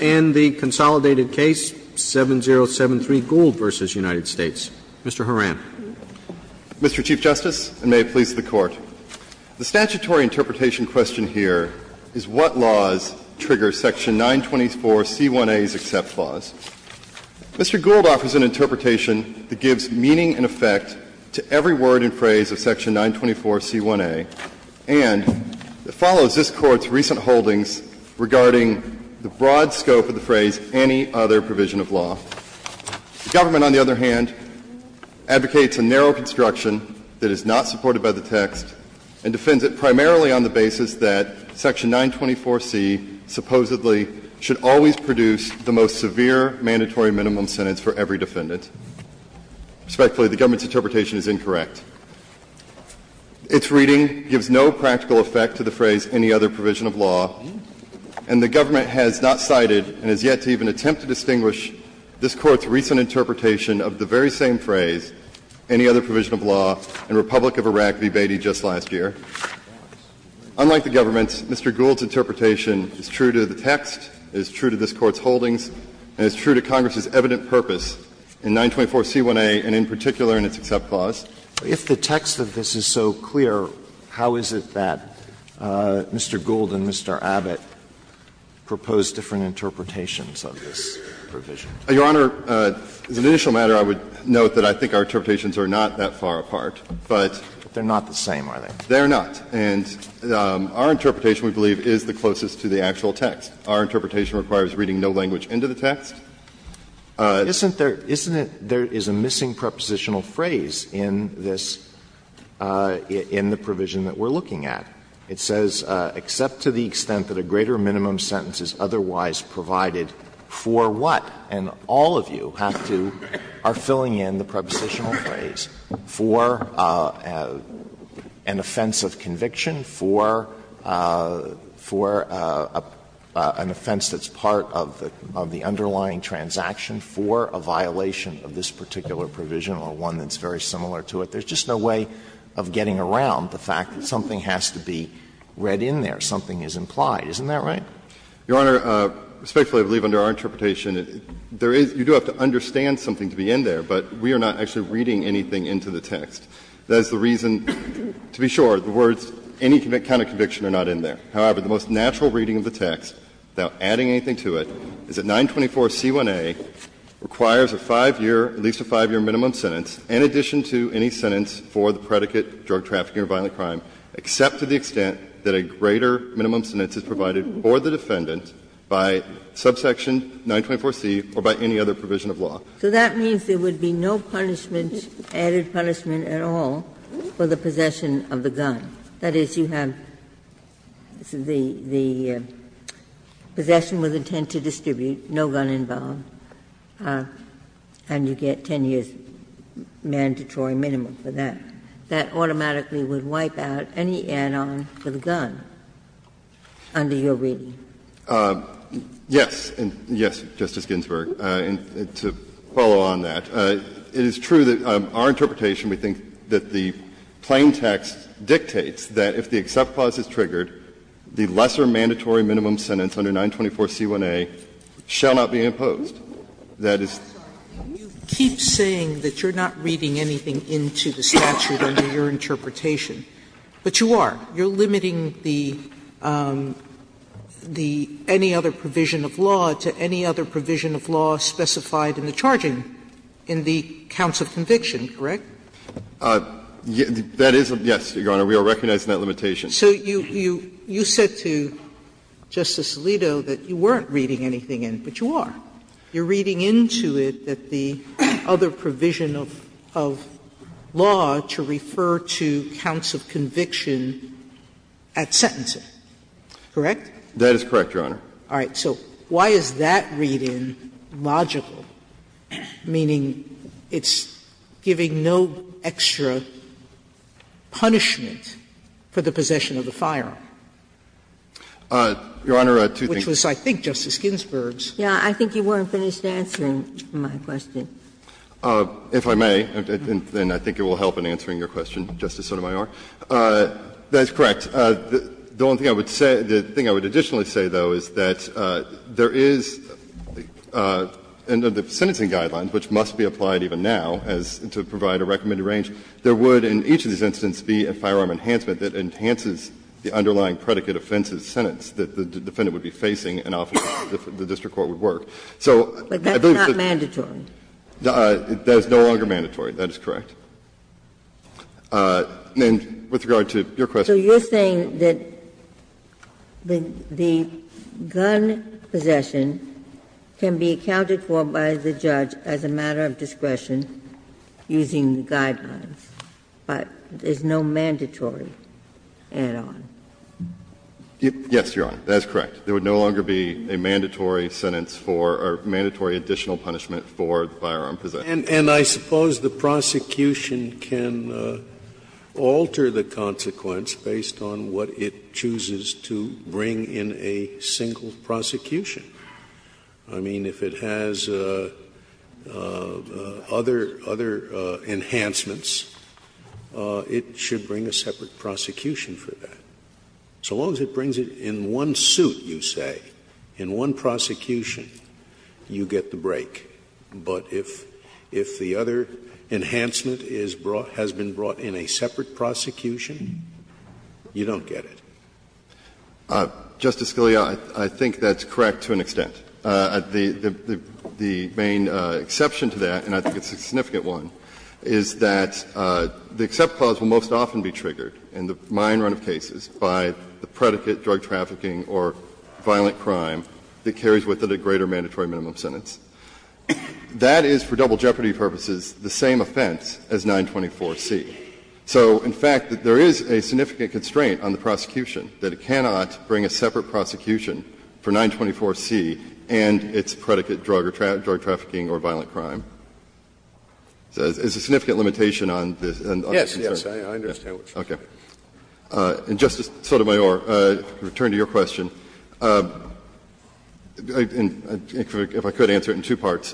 and the consolidated case, 7073 Gould v. United States. Mr. Horan. Mr. Chief Justice, and may it please the Court, the statutory interpretation question here is what laws trigger Section 924C1A's accept laws. Mr. Gould offers an interpretation that gives meaning and effect to every word and phrase of Section 924C1A and that follows this Court's recent holdings regarding the broad scope of the phrase, any other provision of law. The government, on the other hand, advocates a narrow construction that is not supported by the text and defends it primarily on the basis that Section 924C supposedly should always produce the most severe mandatory minimum sentence for every defendant. Respectfully, the government's interpretation is incorrect. Its reading gives no practical effect to the phrase, any other provision of law, and the government has not cited and has yet to even attempt to distinguish this Court's recent interpretation of the very same phrase, any other provision of law, in Republic of Iraq v. Beatty just last year. Unlike the government's, Mr. Gould's interpretation is true to the text, is true to this Court's holdings, and is true to Congress's evident purpose in 924C1A and in particular in its accept clause. Alito, if the text of this is so clear, how is it that Mr. Gould and Mr. Abbott propose different interpretations of this provision? Your Honor, as an initial matter, I would note that I think our interpretations are not that far apart, but. They're not the same, are they? They're not. And our interpretation, we believe, is the closest to the actual text. Our interpretation requires reading no language into the text. Isn't there – isn't there is a missing prepositional phrase in this – in the provision that we're looking at. It says, except to the extent that a greater minimum sentence is otherwise provided for what, and all of you have to – are filling in the prepositional phrase for an offense of conviction, for an offense that's part of the underlying transaction, for a violation of this particular provision, or one that's very similar to it. There's just no way of getting around the fact that something has to be read in there, something is implied. Isn't that right? Your Honor, respectfully, I believe under our interpretation, there is – you do have to understand something to be in there, but we are not actually reading anything into the text. That is the reason, to be sure, the words, any kind of conviction are not in there. However, the most natural reading of the text, without adding anything to it, is that 924c1a requires a 5-year, at least a 5-year minimum sentence, in addition to any sentence for the predicate drug trafficking or violent crime, except to the extent that a greater minimum sentence is provided for the defendant by subsection 924c or by any other provision of law. Ginsburg. So that means there would be no punishment, added punishment at all, for the possession of the gun. That is, you have the possession with intent to distribute, no gun involved, and you get 10 years' mandatory minimum for that. That automatically would wipe out any add-on for the gun under your reading. Yes, and yes, Justice Ginsburg, and to follow on that, it is true that our interpretation, we think, that the plain text dictates that if the except clause is triggered, the lesser mandatory minimum sentence under 924c1a shall not be imposed. That is the case. Sotomayor, you keep saying that you are not reading anything into the statute under your interpretation, but you are. You are limiting the any other provision of law to any other provision of law specified in the charging in the counts of conviction, correct? That is, yes, Your Honor. We are recognizing that limitation. So you said to Justice Alito that you weren't reading anything in, but you are. You are reading into it that the other provision of law to refer to counts of conviction at sentencing, correct? That is correct, Your Honor. All right. So why is that read-in logical, meaning it's giving no extra punishment for the possession of the firearm, which was, I think, Justice Ginsburg's? Yes, I think you weren't finished answering my question. If I may, and I think it will help in answering your question, Justice Sotomayor. That is correct. The only thing I would say, the thing I would additionally say, though, is that there is, under the sentencing guidelines, which must be applied even now as to provide a recommended range, there would, in each of these instances, be a firearm enhancement that enhances the underlying predicate offense's sentence that the defendant would be facing and often the district court would work. So I believe that's the case. But that's not mandatory. That is no longer mandatory. That is correct. And with regard to your question. Ginsburg. So you're saying that the gun possession can be accounted for by the judge as a matter of discretion using the guidelines, but there's no mandatory add-on? Yes, Your Honor. That is correct. There would no longer be a mandatory sentence for or mandatory additional punishment for the firearm possession. And I suppose the prosecution can alter the consequence based on what it chooses to bring in a single prosecution. I mean, if it has other enhancements, it should bring a separate prosecution for that. So long as it brings it in one suit, you say, in one prosecution, you get the break. But if the other enhancement is brought, has been brought in a separate prosecution, you don't get it. Justice Scalia, I think that's correct to an extent. The main exception to that, and I think it's a significant one, is that the except clause will most often be triggered in the minor run of cases by the predicate drug trafficking or violent crime that carries with it a greater mandatory minimum sentence. That is, for double jeopardy purposes, the same offense as 924C. So, in fact, there is a significant constraint on the prosecution that it cannot bring a separate prosecution for 924C and its predicate drug trafficking or violent crime. So there's a significant limitation on the concern. Yes, yes, I understand what you're saying. Okay. And, Justice Sotomayor, to return to your question, if I could answer it in two parts.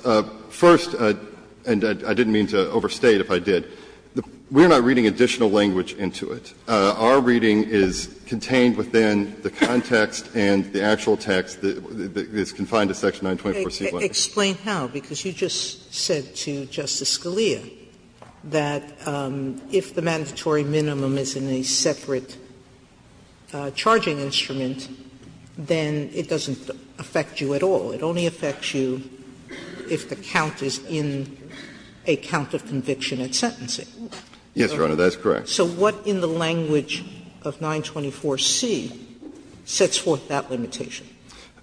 First, and I didn't mean to overstate, if I did, we're not reading additional language into it. Our reading is contained within the context and the actual text that is confined to section 924C. Explain how, because you just said to Justice Scalia that if the mandatory minimum is in a separate charging instrument, then it doesn't affect you at all. It only affects you if the count is in a count of conviction at sentencing. Yes, Your Honor, that's correct. So what in the language of 924C sets forth that limitation?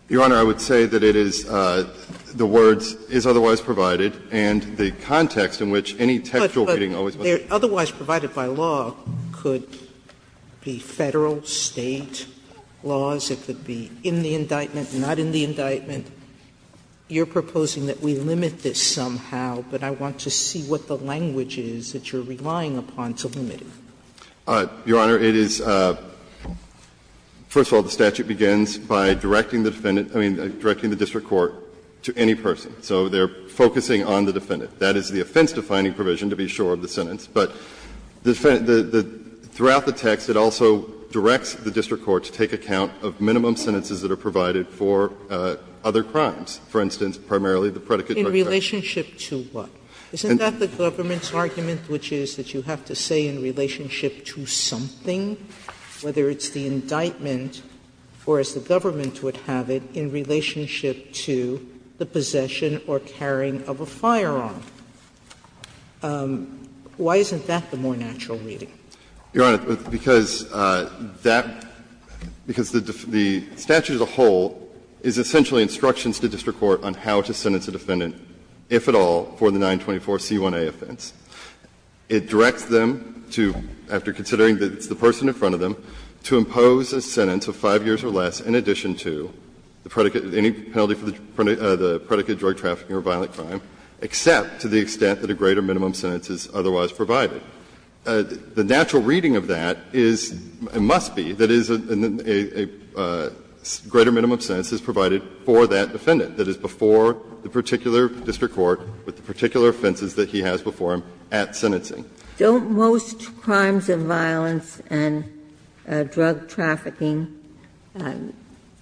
Your Honor, I would say that it is the words that are in the indictment and not in the indictment, but it is the text that is otherwise provided and the context in which any textual reading always must be provided. But otherwise provided by law could be Federal, State laws, it could be in the indictment, not in the indictment. You're proposing that we limit this somehow, but I want to see what the language is that you're relying upon to limit it. Your Honor, it is – first of all, the statute begins by directing the defendant – I mean, directing the district court to any person. So they're focusing on the defendant. That is the offense-defining provision, to be sure, of the sentence. But throughout the text, it also directs the district court to take account of minimum sentences that are provided for other crimes. For instance, primarily the predicate. Sotomayor, in relationship to what? Isn't that the government's argument, which is that you have to say in relationship to something, whether it's the indictment or, as the government would have it, in relationship to the possession or carrying of a firearm? Why isn't that the more natural reading? Your Honor, because that – because the statute as a whole is essentially instructs the district court on how to sentence a defendant, if at all, for the 924 C1A offense. It directs them to, after considering that it's the person in front of them, to impose a sentence of 5 years or less in addition to the predicate – any penalty for the predicate of drug trafficking or violent crime, except to the extent that a greater minimum sentence is otherwise provided. The natural reading of that is – must be that is a greater minimum sentence is provided for that defendant that is before the particular district court with the particular offenses that he has before him at sentencing. Don't most crimes of violence and drug trafficking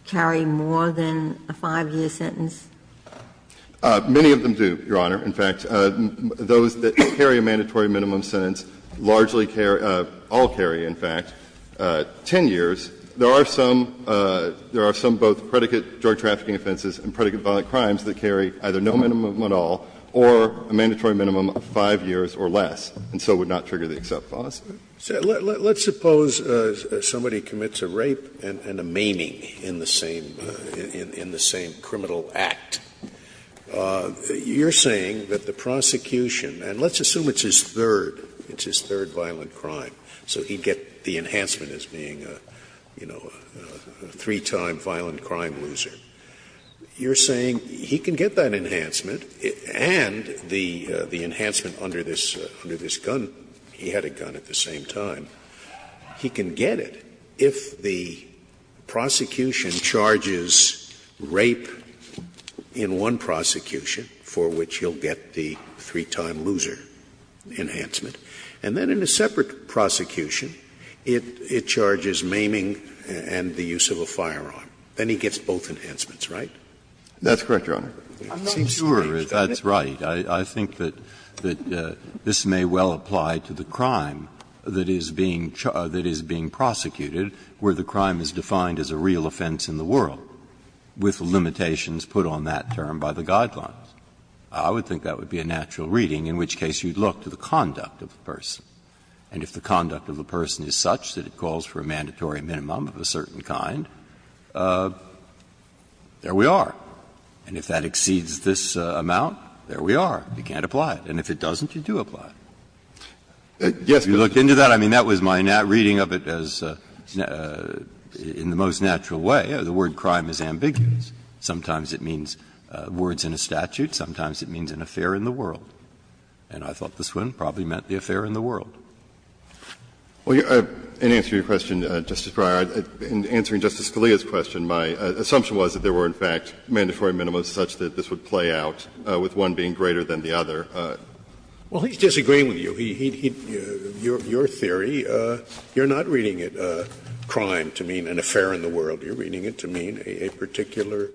carry more than a 5-year sentence? Many of them do, Your Honor. In fact, those that carry a mandatory minimum sentence largely carry – all carry, in fact, 10 years. There are some – there are some both predicate drug trafficking offenses and predicate violent crimes that carry either no minimum at all or a mandatory minimum of 5 years or less, and so would not trigger the except clause. Scalia, let's suppose somebody commits a rape and a maiming in the same – in the same criminal act. You're saying that the prosecution – and let's assume it's his third, it's his second, the enhancement as being a, you know, a three-time violent crime loser. You're saying he can get that enhancement and the enhancement under this gun. He had a gun at the same time. He can get it if the prosecution charges rape in one prosecution for which he'll get the three-time loser enhancement, and then in a separate prosecution, it charges maiming and the use of a firearm. Then he gets both enhancements, right? That's correct, Your Honor. Breyer, I'm not sure if that's right. I think that this may well apply to the crime that is being prosecuted where the crime is defined as a real offense in the world with limitations put on that term by the guidelines. I would think that would be a natural reading, in which case you'd look to the conduct of the person. And if the conduct of the person is such that it calls for a mandatory minimum of a certain kind, there we are. And if that exceeds this amount, there we are. You can't apply it. And if it doesn't, you do apply it. If you looked into that, I mean, that was my reading of it as in the most natural way. The word crime is ambiguous. Sometimes it means words in a statute. Sometimes it means an affair in the world. And I thought this one probably meant the affair in the world. And to answer your question, Justice Breyer, in answering Justice Scalia's question, my assumption was that there were in fact mandatory minimums such that this would play out with one being greater than the other. Well, he's disagreeing with you. He he'd, your theory, you're not reading it, crime, to mean an affair in the world. You're reading it to mean a particular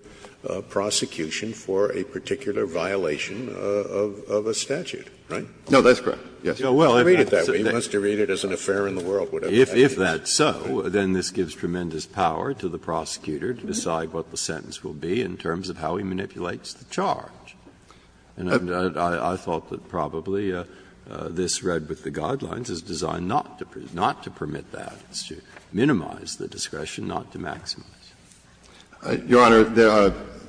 prosecution for a particular violation of a statute, right? No, that's correct. Yes. You read it that way. You must read it as an affair in the world, whatever that means. If that's so, then this gives tremendous power to the prosecutor to decide what the sentence will be in terms of how he manipulates the charge. And I thought that probably this read with the guidelines is designed not to permit that. It's to minimize the discretion, not to maximize. Your Honor,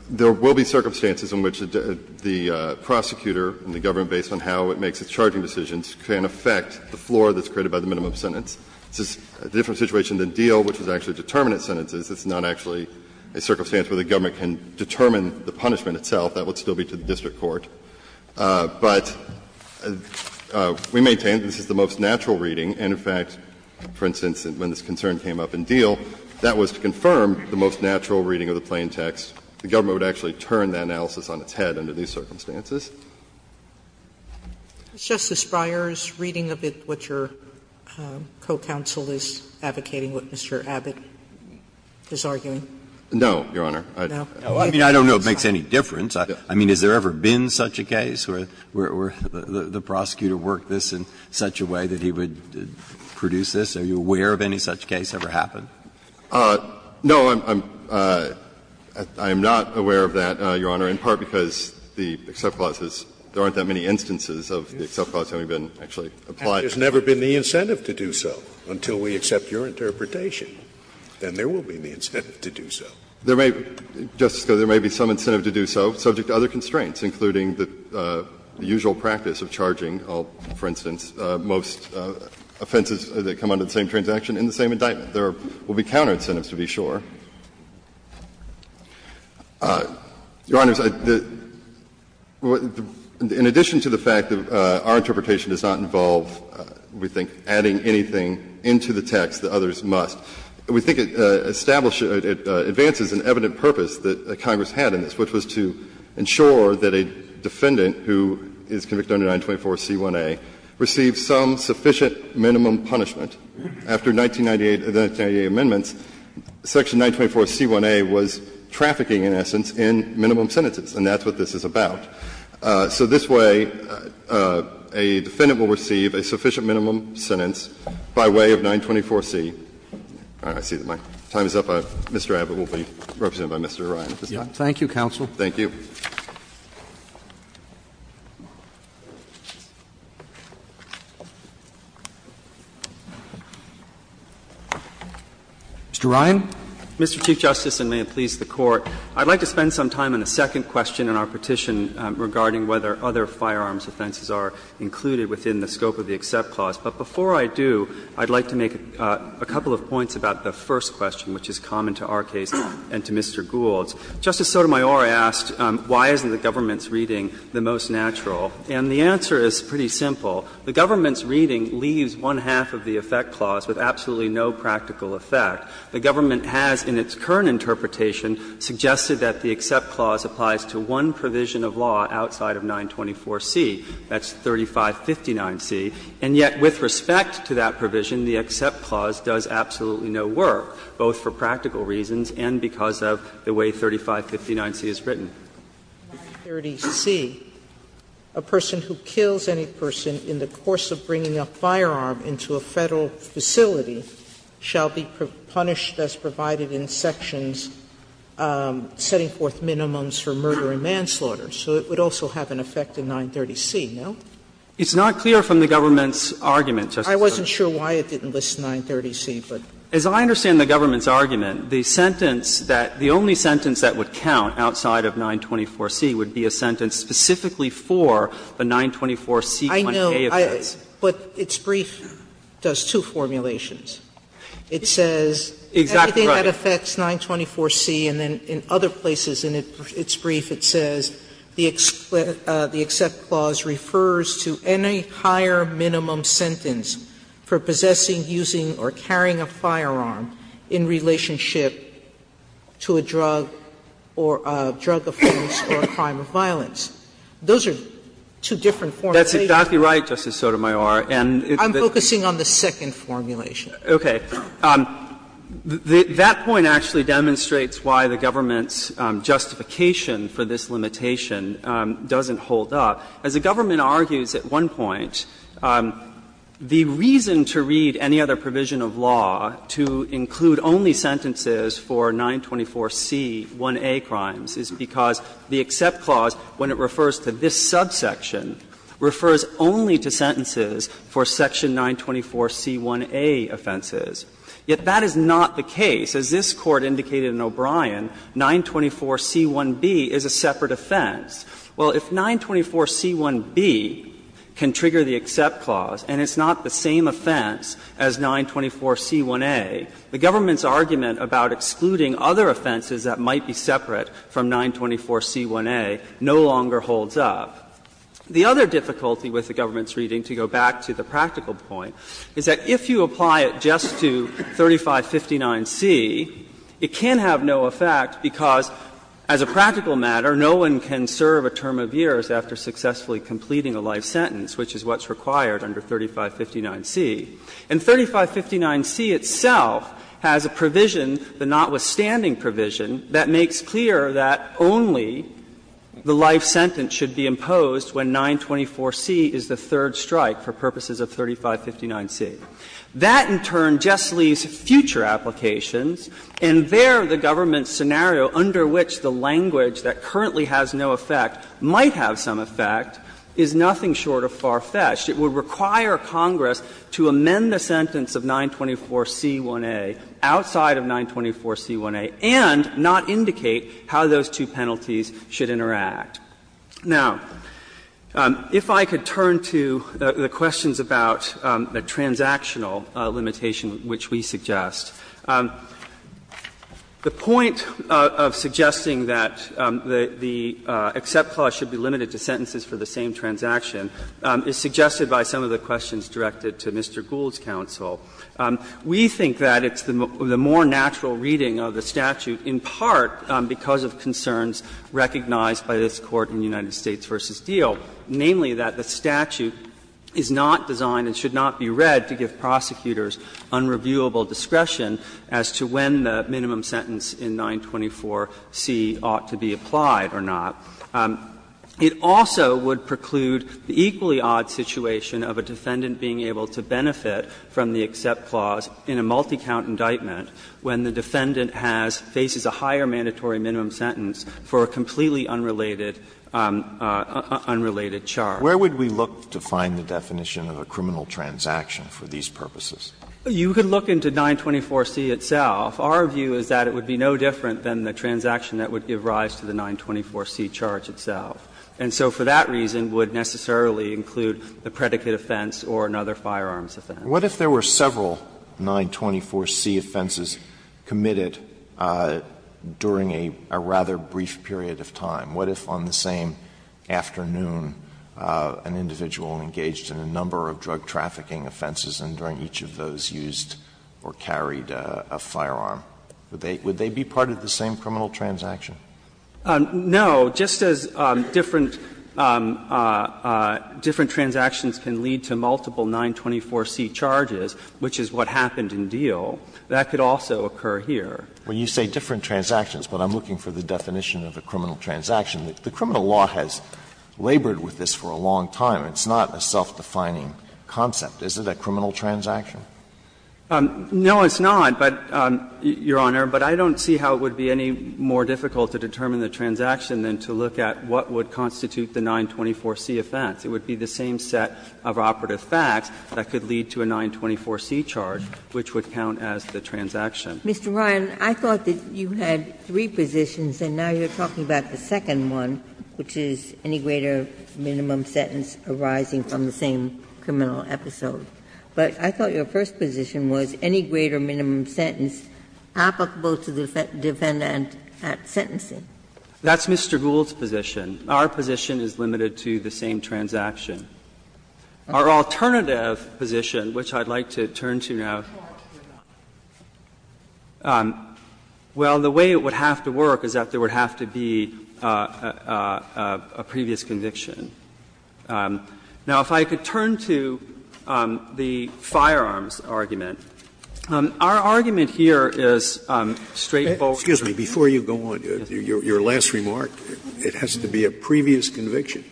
there will be circumstances in which the prosecutor and the government based on how it makes its charging decisions can affect the floor that's created by the minimum sentence. This is a different situation than Deal, which is actually determinate sentences. It's not actually a circumstance where the government can determine the punishment itself. That would still be to the district court. But we maintain this is the most natural reading. And, in fact, for instance, when this concern came up in Deal, that was to confirm the most natural reading of the plain text. The government would actually turn that analysis on its head under these circumstances. Sotomayor's reading of it what your co-counsel is advocating, what Mr. Abbott is arguing? No, Your Honor. I mean, I don't know if it makes any difference. I mean, has there ever been such a case where the prosecutor worked this in such a way that he would produce this? Are you aware of any such case ever happened? No, I'm not aware of that, Your Honor, in part because the except clauses, there aren't that many instances of the except clauses having been actually applied. And there's never been the incentive to do so until we accept your interpretation. Then there will be the incentive to do so. There may be, Justice Scalia, there may be some incentive to do so subject to other most offenses that come under the same transaction in the same indictment. There will be counter-incentives, to be sure. Your Honors, in addition to the fact that our interpretation does not involve, we think, adding anything into the text that others must, we think it establishes and advances an evident purpose that Congress had in this, which was to ensure that a defendant who is convicted under 924C1A receives some sufficient minimum punishment after 1998, the 1998 amendments, section 924C1A was trafficking in essence in minimum sentences, and that's what this is about. So this way, a defendant will receive a sufficient minimum sentence by way of 924C. I see that my time is up. Mr. Abbott will be represented by Mr. O'Brien at this time. Thank you, counsel. Thank you. Mr. Ryan. Mr. Chief Justice, and may it please the Court. I'd like to spend some time on the second question in our petition regarding whether other firearms offenses are included within the scope of the EXCEPT clause. But before I do, I'd like to make a couple of points about the first question, which is common to our case and to Mr. Gould's. Justice Sotomayor asked, why isn't the government's reading the most natural? And the answer is pretty simple. The government's reading leaves one-half of the effect clause with absolutely no practical effect. The government has, in its current interpretation, suggested that the EXCEPT clause applies to one provision of law outside of 924C, that's 3559C, and yet with respect to that provision, the EXCEPT clause does absolutely no work, both for practical reasons and because of the way 3559C is written. Sotomayor, 930C, a person who kills any person in the course of bringing a firearm into a Federal facility shall be punished as provided in sections setting forth minimums for murder and manslaughter. So it would also have an effect in 930C, no? It's not clear from the government's argument, Justice Sotomayor. I wasn't sure why it didn't list 930C, but. As I understand the government's argument, the sentence that the only sentence that would count outside of 924C would be a sentence specifically for the 924C1A effect. Sotomayor, but its brief does two formulations. It says, everything that affects 924C, and then in other places in its brief, it says the EXCEPT clause refers to any higher minimum sentence for possessing, using or carrying a firearm in relationship to a drug or a drug offense or a crime of violence. Those are two different formulations. That's exactly right, Justice Sotomayor. And it's the. I'm focusing on the second formulation. Okay. That point actually demonstrates why the government's justification for this limitation doesn't hold up. As the government argues at one point, the reason to read any other provision of law to include only sentences for 924C1A crimes is because the EXCEPT clause, when it refers to this subsection, refers only to sentences for section 924C1A offenses. Yet that is not the case. As this Court indicated in O'Brien, 924C1B is a separate offense. Well, if 924C1B can trigger the EXCEPT clause and it's not the same offense as 924C1A, the government's argument about excluding other offenses that might be separate from 924C1A no longer holds up. The other difficulty with the government's reading, to go back to the practical point, is that if you apply it just to 3559C, it can have no effect because as a practical matter, no one can serve a term of years after successfully completing a life sentence, which is what's required under 3559C. And 3559C itself has a provision, the notwithstanding provision, that makes clear that only the life sentence should be imposed when 924C is the third strike for purposes of 3559C. That, in turn, just leaves future applications, and there the government's argument under which the language that currently has no effect might have some effect is nothing short of far-fetched. It would require Congress to amend the sentence of 924C1A outside of 924C1A and not indicate how those two penalties should interact. Now, if I could turn to the questions about the transactional limitation which we suggest. The point of suggesting that the accept clause should be limited to sentences for the same transaction is suggested by some of the questions directed to Mr. Gould's counsel. We think that it's the more natural reading of the statute in part because of concerns recognized by this Court in United States v. Diehl, namely that the statute is not designed and should not be read to give prosecutors unreviewable discretion as to when the minimum sentence in 924C ought to be applied or not. It also would preclude the equally odd situation of a defendant being able to benefit from the accept clause in a multi-count indictment when the defendant has, faces a higher mandatory minimum sentence for a completely unrelated charge. Alito, where would we look to find the definition of a criminal transaction for these purposes? You could look into 924C itself. Our view is that it would be no different than the transaction that would give rise to the 924C charge itself. And so for that reason, it would necessarily include the predicate offense or another firearms offense. What if there were several 924C offenses committed during a rather brief period of time? What if on the same afternoon an individual engaged in a number of drug trafficking offenses and during each of those used or carried a firearm? Would they be part of the same criminal transaction? No. Just as different transactions can lead to multiple 924C charges, which is what happened in Diehl, that could also occur here. Alito, when you say different transactions, but I'm looking for the definition of a criminal transaction, the criminal law has labored with this for a long time. It's not a self-defining concept. Is it a criminal transaction? No, it's not, but, Your Honor, but I don't see how it would be any more difficult to determine the transaction than to look at what would constitute the 924C offense. It would be the same set of operative facts that could lead to a 924C charge, which would count as the transaction. Ginsburg. Mr. Ryan, I thought that you had three positions, and now you're talking about the second one, which is any greater minimum sentence arising from the same criminal episode, but I thought your first position was any greater minimum sentence applicable to the defendant at sentencing. That's Mr. Gould's position. Our position is limited to the same transaction. Our alternative position, which I'd like to turn to now. Well, the way it would have to work is that there would have to be a previous conviction. Now, if I could turn to the firearms argument. Our argument here is straightforward. Scalia. Excuse me. Before you go on, your last remark, it has to be a previous conviction.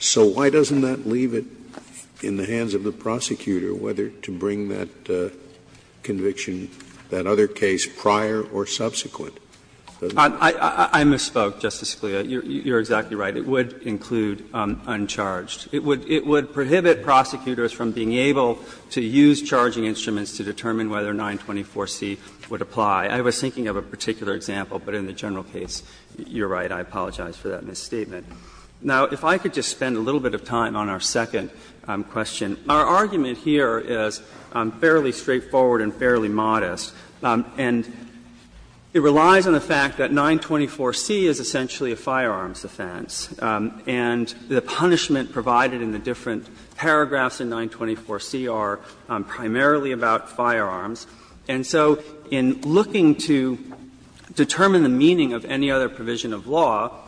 So why doesn't that leave it in the hands of the prosecutor whether to bring that conviction, that other case, prior or subsequent? I misspoke, Justice Scalia. You're exactly right. It would include uncharged. It would prohibit prosecutors from being able to use charging instruments to determine whether 924C would apply. I was thinking of a particular example, but in the general case, you're right, I apologize for that misstatement. Now, if I could just spend a little bit of time on our second question. Our argument here is fairly straightforward and fairly modest. And it relies on the fact that 924C is essentially a firearms offense. And the punishment provided in the different paragraphs in 924C are primarily about firearms. And so in looking to determine the meaning of any other provision of law, it's not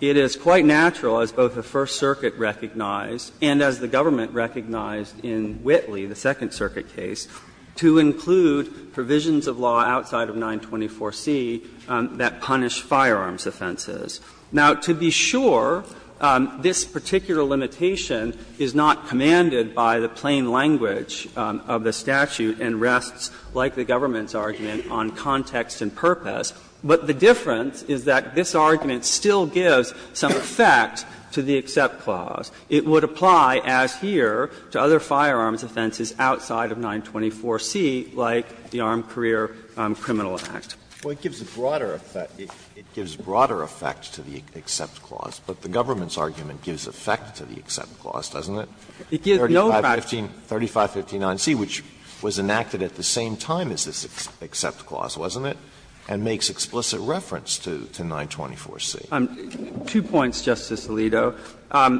It is quite natural, as both the First Circuit recognized and as the government recognized in Whitley, the Second Circuit case, to include provisions of law outside of 924C that punish firearms offenses. Now, to be sure, this particular limitation is not commanded by the plain language of the statute and rests, like the government's argument, on context and purpose. But the difference is that this argument still gives some effect to the EXCEPT clause. It would apply, as here, to other firearms offenses outside of 924C, like the Armed Career Criminal Act. Alito, it gives a broader effect to the EXCEPT clause, but the government's argument gives effect to the EXCEPT clause, doesn't it? 3515 9C, which was enacted at the same time as this EXCEPT clause, wasn't it? And makes explicit reference to 924C. Two points, Justice Alito.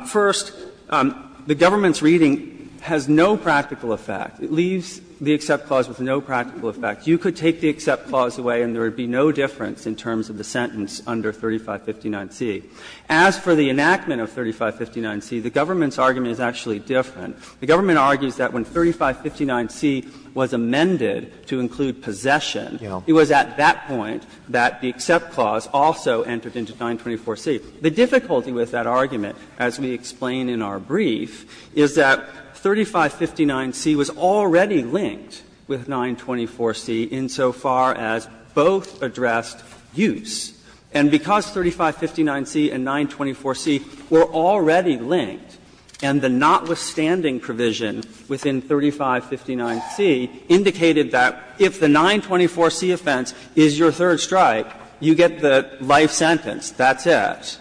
First, the government's reading has no practical effect. It leaves the EXCEPT clause with no practical effect. You could take the EXCEPT clause away and there would be no difference in terms of the sentence under 3559C. As for the enactment of 3559C, the government's argument is actually different. The government argues that when 3559C was amended to include possession, it was at that point that the EXCEPT clause also entered into 924C. The difficulty with that argument, as we explain in our brief, is that 3559C was already linked with 924C insofar as both addressed use. And because 3559C and 924C were already linked, and the notwithstanding provision within 3559C indicated that if the 924C offense is your third strike, you get the life sentence. That's it.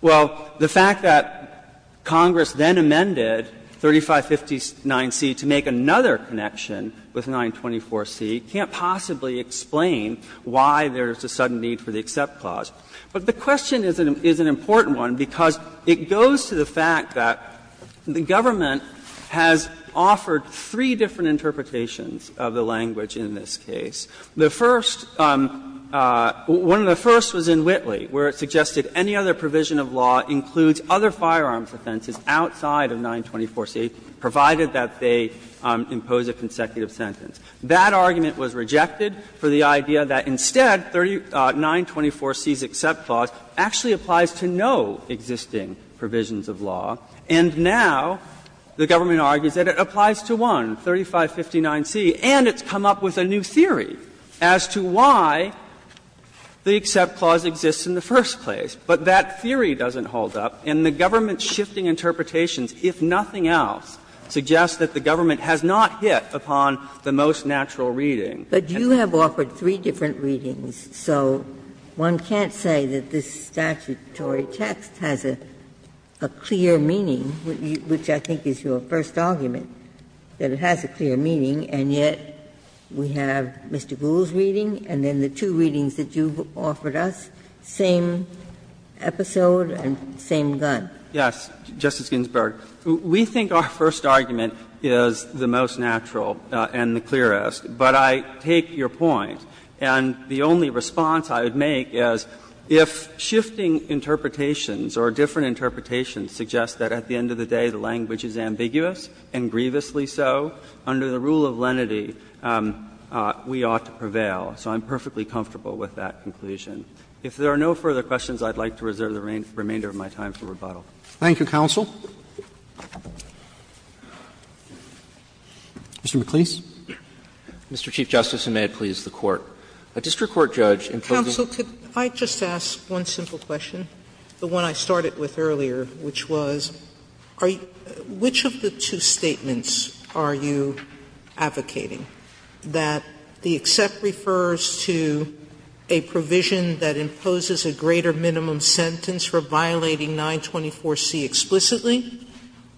Well, the fact that Congress then amended 3559C to make another connection with 924C can't possibly explain why there's a sudden need for the EXCEPT clause. But the question is an important one because it goes to the fact that the government has offered three different interpretations of the language in this case. The first, one of the first was in Whitley, where it suggested any other provision of law includes other firearms offenses outside of 924C, provided that they impose a consecutive sentence. That argument was rejected for the idea that instead 924C's EXCEPT clause actually applies to no existing provisions of law. And now the government argues that it applies to one, 3559C, and it's come up with a new theory as to why the EXCEPT clause exists in the first place. But that theory doesn't hold up, and the government's shifting interpretations, if nothing else, suggests that the government has not hit upon the most natural reading. Ginsburg, But you have offered three different readings, so one can't say that this statutory text has a clear meaning, which I think is your first argument, that it has a clear meaning, and yet we have Mr. Gould's reading and then the two readings that you've offered us, same episode and same gun. Yes, Justice Ginsburg. We think our first argument is the most natural and the clearest, but I take your point, and the only response I would make is if shifting interpretations or different interpretations suggest that at the end of the day the language is ambiguous, and grievously so, under the rule of lenity, we ought to prevail. So I'm perfectly comfortable with that conclusion. If there are no further questions, I'd like to reserve the remainder of my time for rebuttal. Roberts Thank you, counsel. Mr. McLeese. McLeese, Mr. Chief Justice, and may it please the Court. A district court judge including Sotomayor, counsel, could I just ask one simple question, the one I started with earlier, which was, which of the two statements are you advocating, that the EXCEPT clause refers to a provision that imposes a greater minimum sentence for violating 924C explicitly,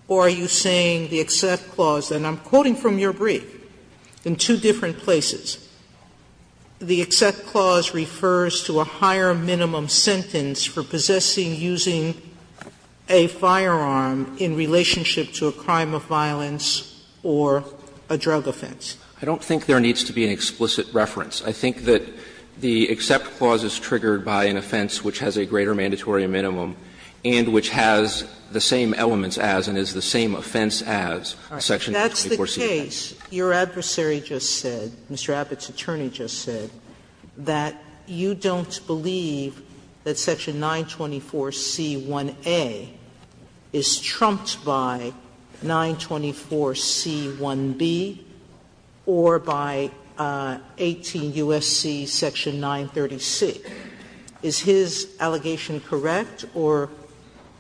or are you saying the EXCEPT clause, and I'm quoting from your brief, in two different places, the EXCEPT clause refers to a higher minimum sentence for possessing using a firearm in relationship to a crime of violence or a drug offense? McLeese, I don't think there needs to be an explicit reference. I think that the EXCEPT clause is triggered by an offense which has a greater mandatory minimum and which has the same elements as and is the same offense as section 924C1A. Sotomayor Your adversary just said, Mr. Abbott's attorney just said, that you don't believe that section 924C1A is trumped by 924C1B? Or by 18 U.S.C. section 930C? Is his allegation correct or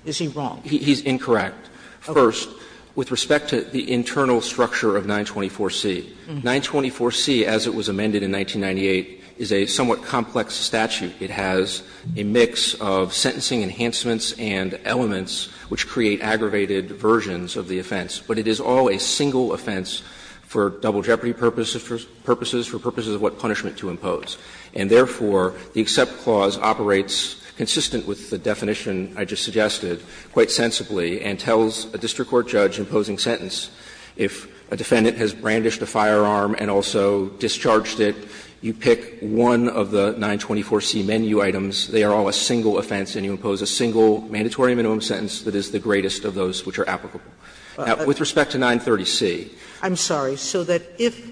is he wrong? McLeese, he's incorrect. First, with respect to the internal structure of 924C, 924C, as it was amended in 1998, is a somewhat complex statute. It has a mix of sentencing enhancements and elements which create aggravated versions of the offense, but it is all a single offense for double jeopardy purposes, for purposes of what punishment to impose. And therefore, the EXCEPT clause operates consistent with the definition I just suggested quite sensibly and tells a district court judge imposing sentence if a defendant has brandished a firearm and also discharged it, you pick one of the 924C menu items, they are all a single offense, and you impose a single mandatory minimum sentence that is the greatest of those which are applicable. Now, with respect to 930C. Sotomayor, I'm sorry. So that if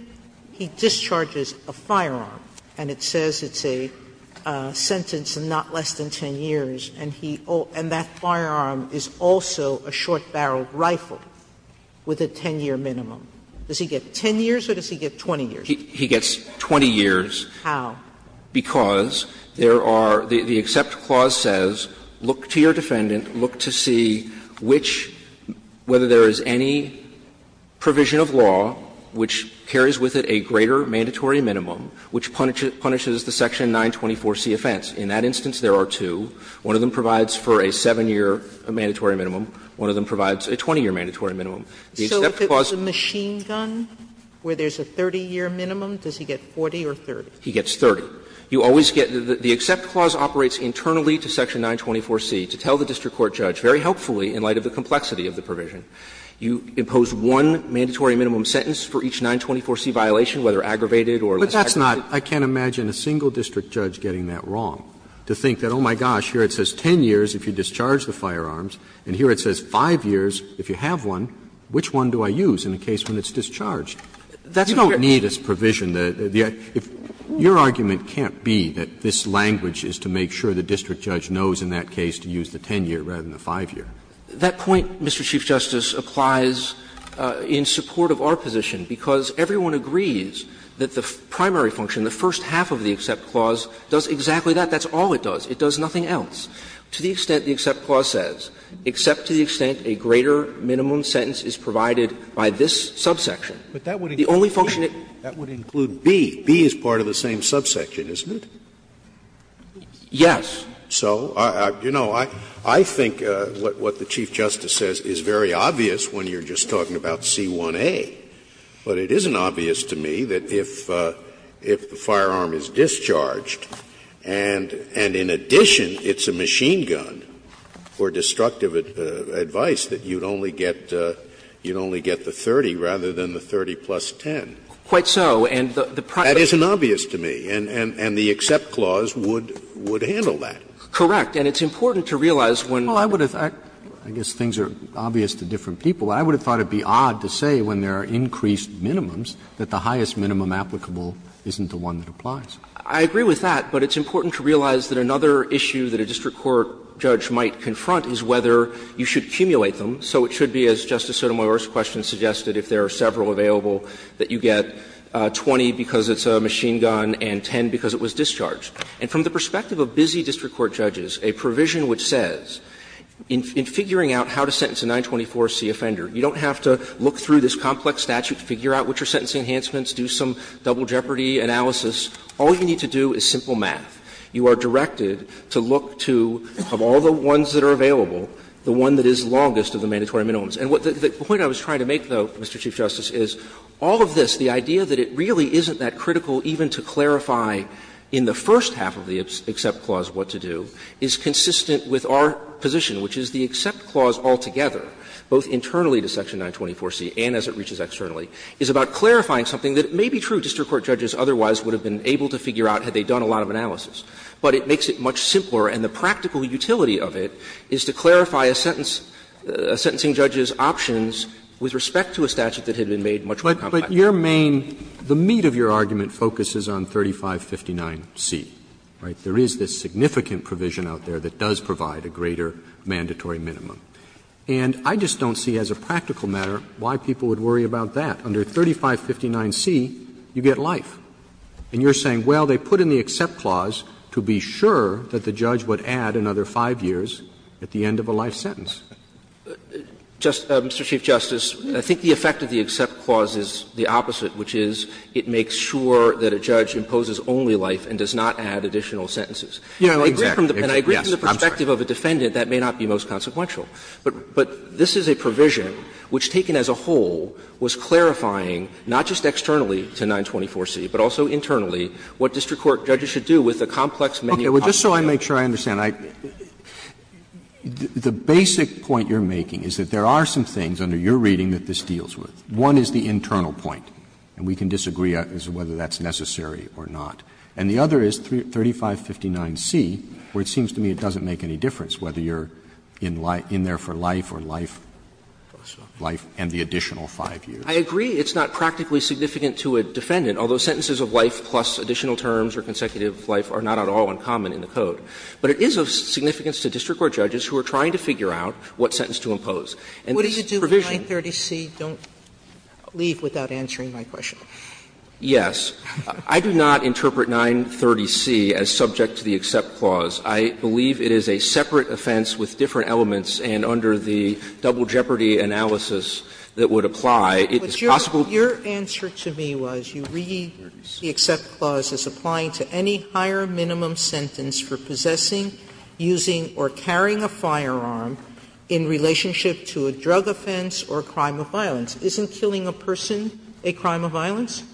he discharges a firearm and it says it's a sentence not less than 10 years and he also – and that firearm is also a short-barreled rifle with a 10-year minimum, does he get 10 years or does he get 20 years? He gets 20 years. How? Because there are – the EXCEPT clause says, look to your defendant, look to see which – whether there is any provision of law which carries with it a greater mandatory minimum which punishes the section 924C offense. In that instance, there are two. One of them provides for a 7-year mandatory minimum. One of them provides a 20-year mandatory minimum. The EXCEPT clause says that. Sotomayor, so if it was a machine gun where there's a 30-year minimum, does he get 40 or 30? He gets 30. You always get – the EXCEPT clause operates internally to section 924C to tell the district court judge, very helpfully, in light of the complexity of the provision. You impose one mandatory minimum sentence for each 924C violation, whether aggravated or less aggravated. Roberts, but that's not – I can't imagine a single district judge getting that wrong, to think that, oh, my gosh, here it says 10 years if you discharge the firearms and here it says 5 years if you have one. Which one do I use in a case when it's discharged? You don't need as provision the – the – if – Your argument can't be that this language is to make sure the district judge knows in that case to use the 10-year rather than the 5-year. That point, Mr. Chief Justice, applies in support of our position, because everyone agrees that the primary function, the first half of the EXCEPT clause, does exactly that. That's all it does. It does nothing else. To the extent the EXCEPT clause says, except to the extent a greater minimum sentence is provided by this subsection, the only function it – But that would include B. B is part of the same subsection, isn't it? Yes. So, you know, I think what the Chief Justice says is very obvious when you're just talking about C1A. But it isn't obvious to me that if the firearm is discharged and in addition it's a machine gun, for destructive advice, that you'd only get the 30 rather than the 30 plus 10. Quite so. And the primary – That isn't obvious to me. And the EXCEPT clause would handle that. Correct. And it's important to realize when – Well, I would have – I guess things are obvious to different people. I would have thought it would be odd to say when there are increased minimums that the highest minimum applicable isn't the one that applies. I agree with that. But it's important to realize that another issue that a district court judge might confront is whether you should accumulate them. So it should be, as Justice Sotomayor's question suggested, if there are several available, that you get 20 because it's a machine gun and 10 because it was discharged. And from the perspective of busy district court judges, a provision which says in figuring out how to sentence a 924c offender, you don't have to look through this complex statute, figure out what your sentencing enhancements, do some double jeopardy analysis. All you need to do is simple math. You are directed to look to, of all the ones that are available, the one that is longest of the mandatory minimums. And the point I was trying to make, though, Mr. Chief Justice, is all of this, the idea that it really isn't that critical even to clarify in the first half of the Except Clause what to do, is consistent with our position, which is the Except Clause altogether, both internally to section 924c and as it reaches externally, is about clarifying something that may be true district court judges otherwise would have been able to figure out had they done a lot of analysis, but it makes it much simpler, and the practical utility of it is to clarify a sentence, a sentencing judge's options with respect to a statute that had been made much more complex. Roberts, but your main, the meat of your argument focuses on 3559c, right? There is this significant provision out there that does provide a greater mandatory minimum. And I just don't see as a practical matter why people would worry about that. Under 3559c, you get life. And you are saying, well, they put in the Except Clause to be sure that the judge would add another 5 years at the end of a life sentence. Just, Mr. Chief Justice, I think the effect of the Except Clause is the opposite, which is it makes sure that a judge imposes only life and does not add additional sentences. I agree from the perspective of a defendant that may not be most consequential. But this is a provision which, taken as a whole, was clarifying not just externally to 924c, but also internally what district court judges should do with a complex menu. Roberts, just so I make sure I understand, the basic point you are making is that there are some things under your reading that this deals with. One is the internal point, and we can disagree as to whether that's necessary or not. And the other is 3559c, where it seems to me it doesn't make any difference whether you are in there for life or life and the additional 5 years. I agree it's not practically significant to a defendant, although sentences of life plus additional terms or consecutive life are not at all uncommon in the Code. But it is of significance to district court judges who are trying to figure out what sentence to impose. And this provision What do you do with 930c? Don't leave without answering my question. Yes. I do not interpret 930c as subject to the Except Clause. I believe it is a separate offense with different elements, and under the double jeopardy analysis that would apply, it is possible to Your answer to me was you read the Except Clause as applying to any higher minimum sentence for possessing, using, or carrying a firearm in relationship to a drug offense or a crime of violence. Isn't killing a person a crime of violence?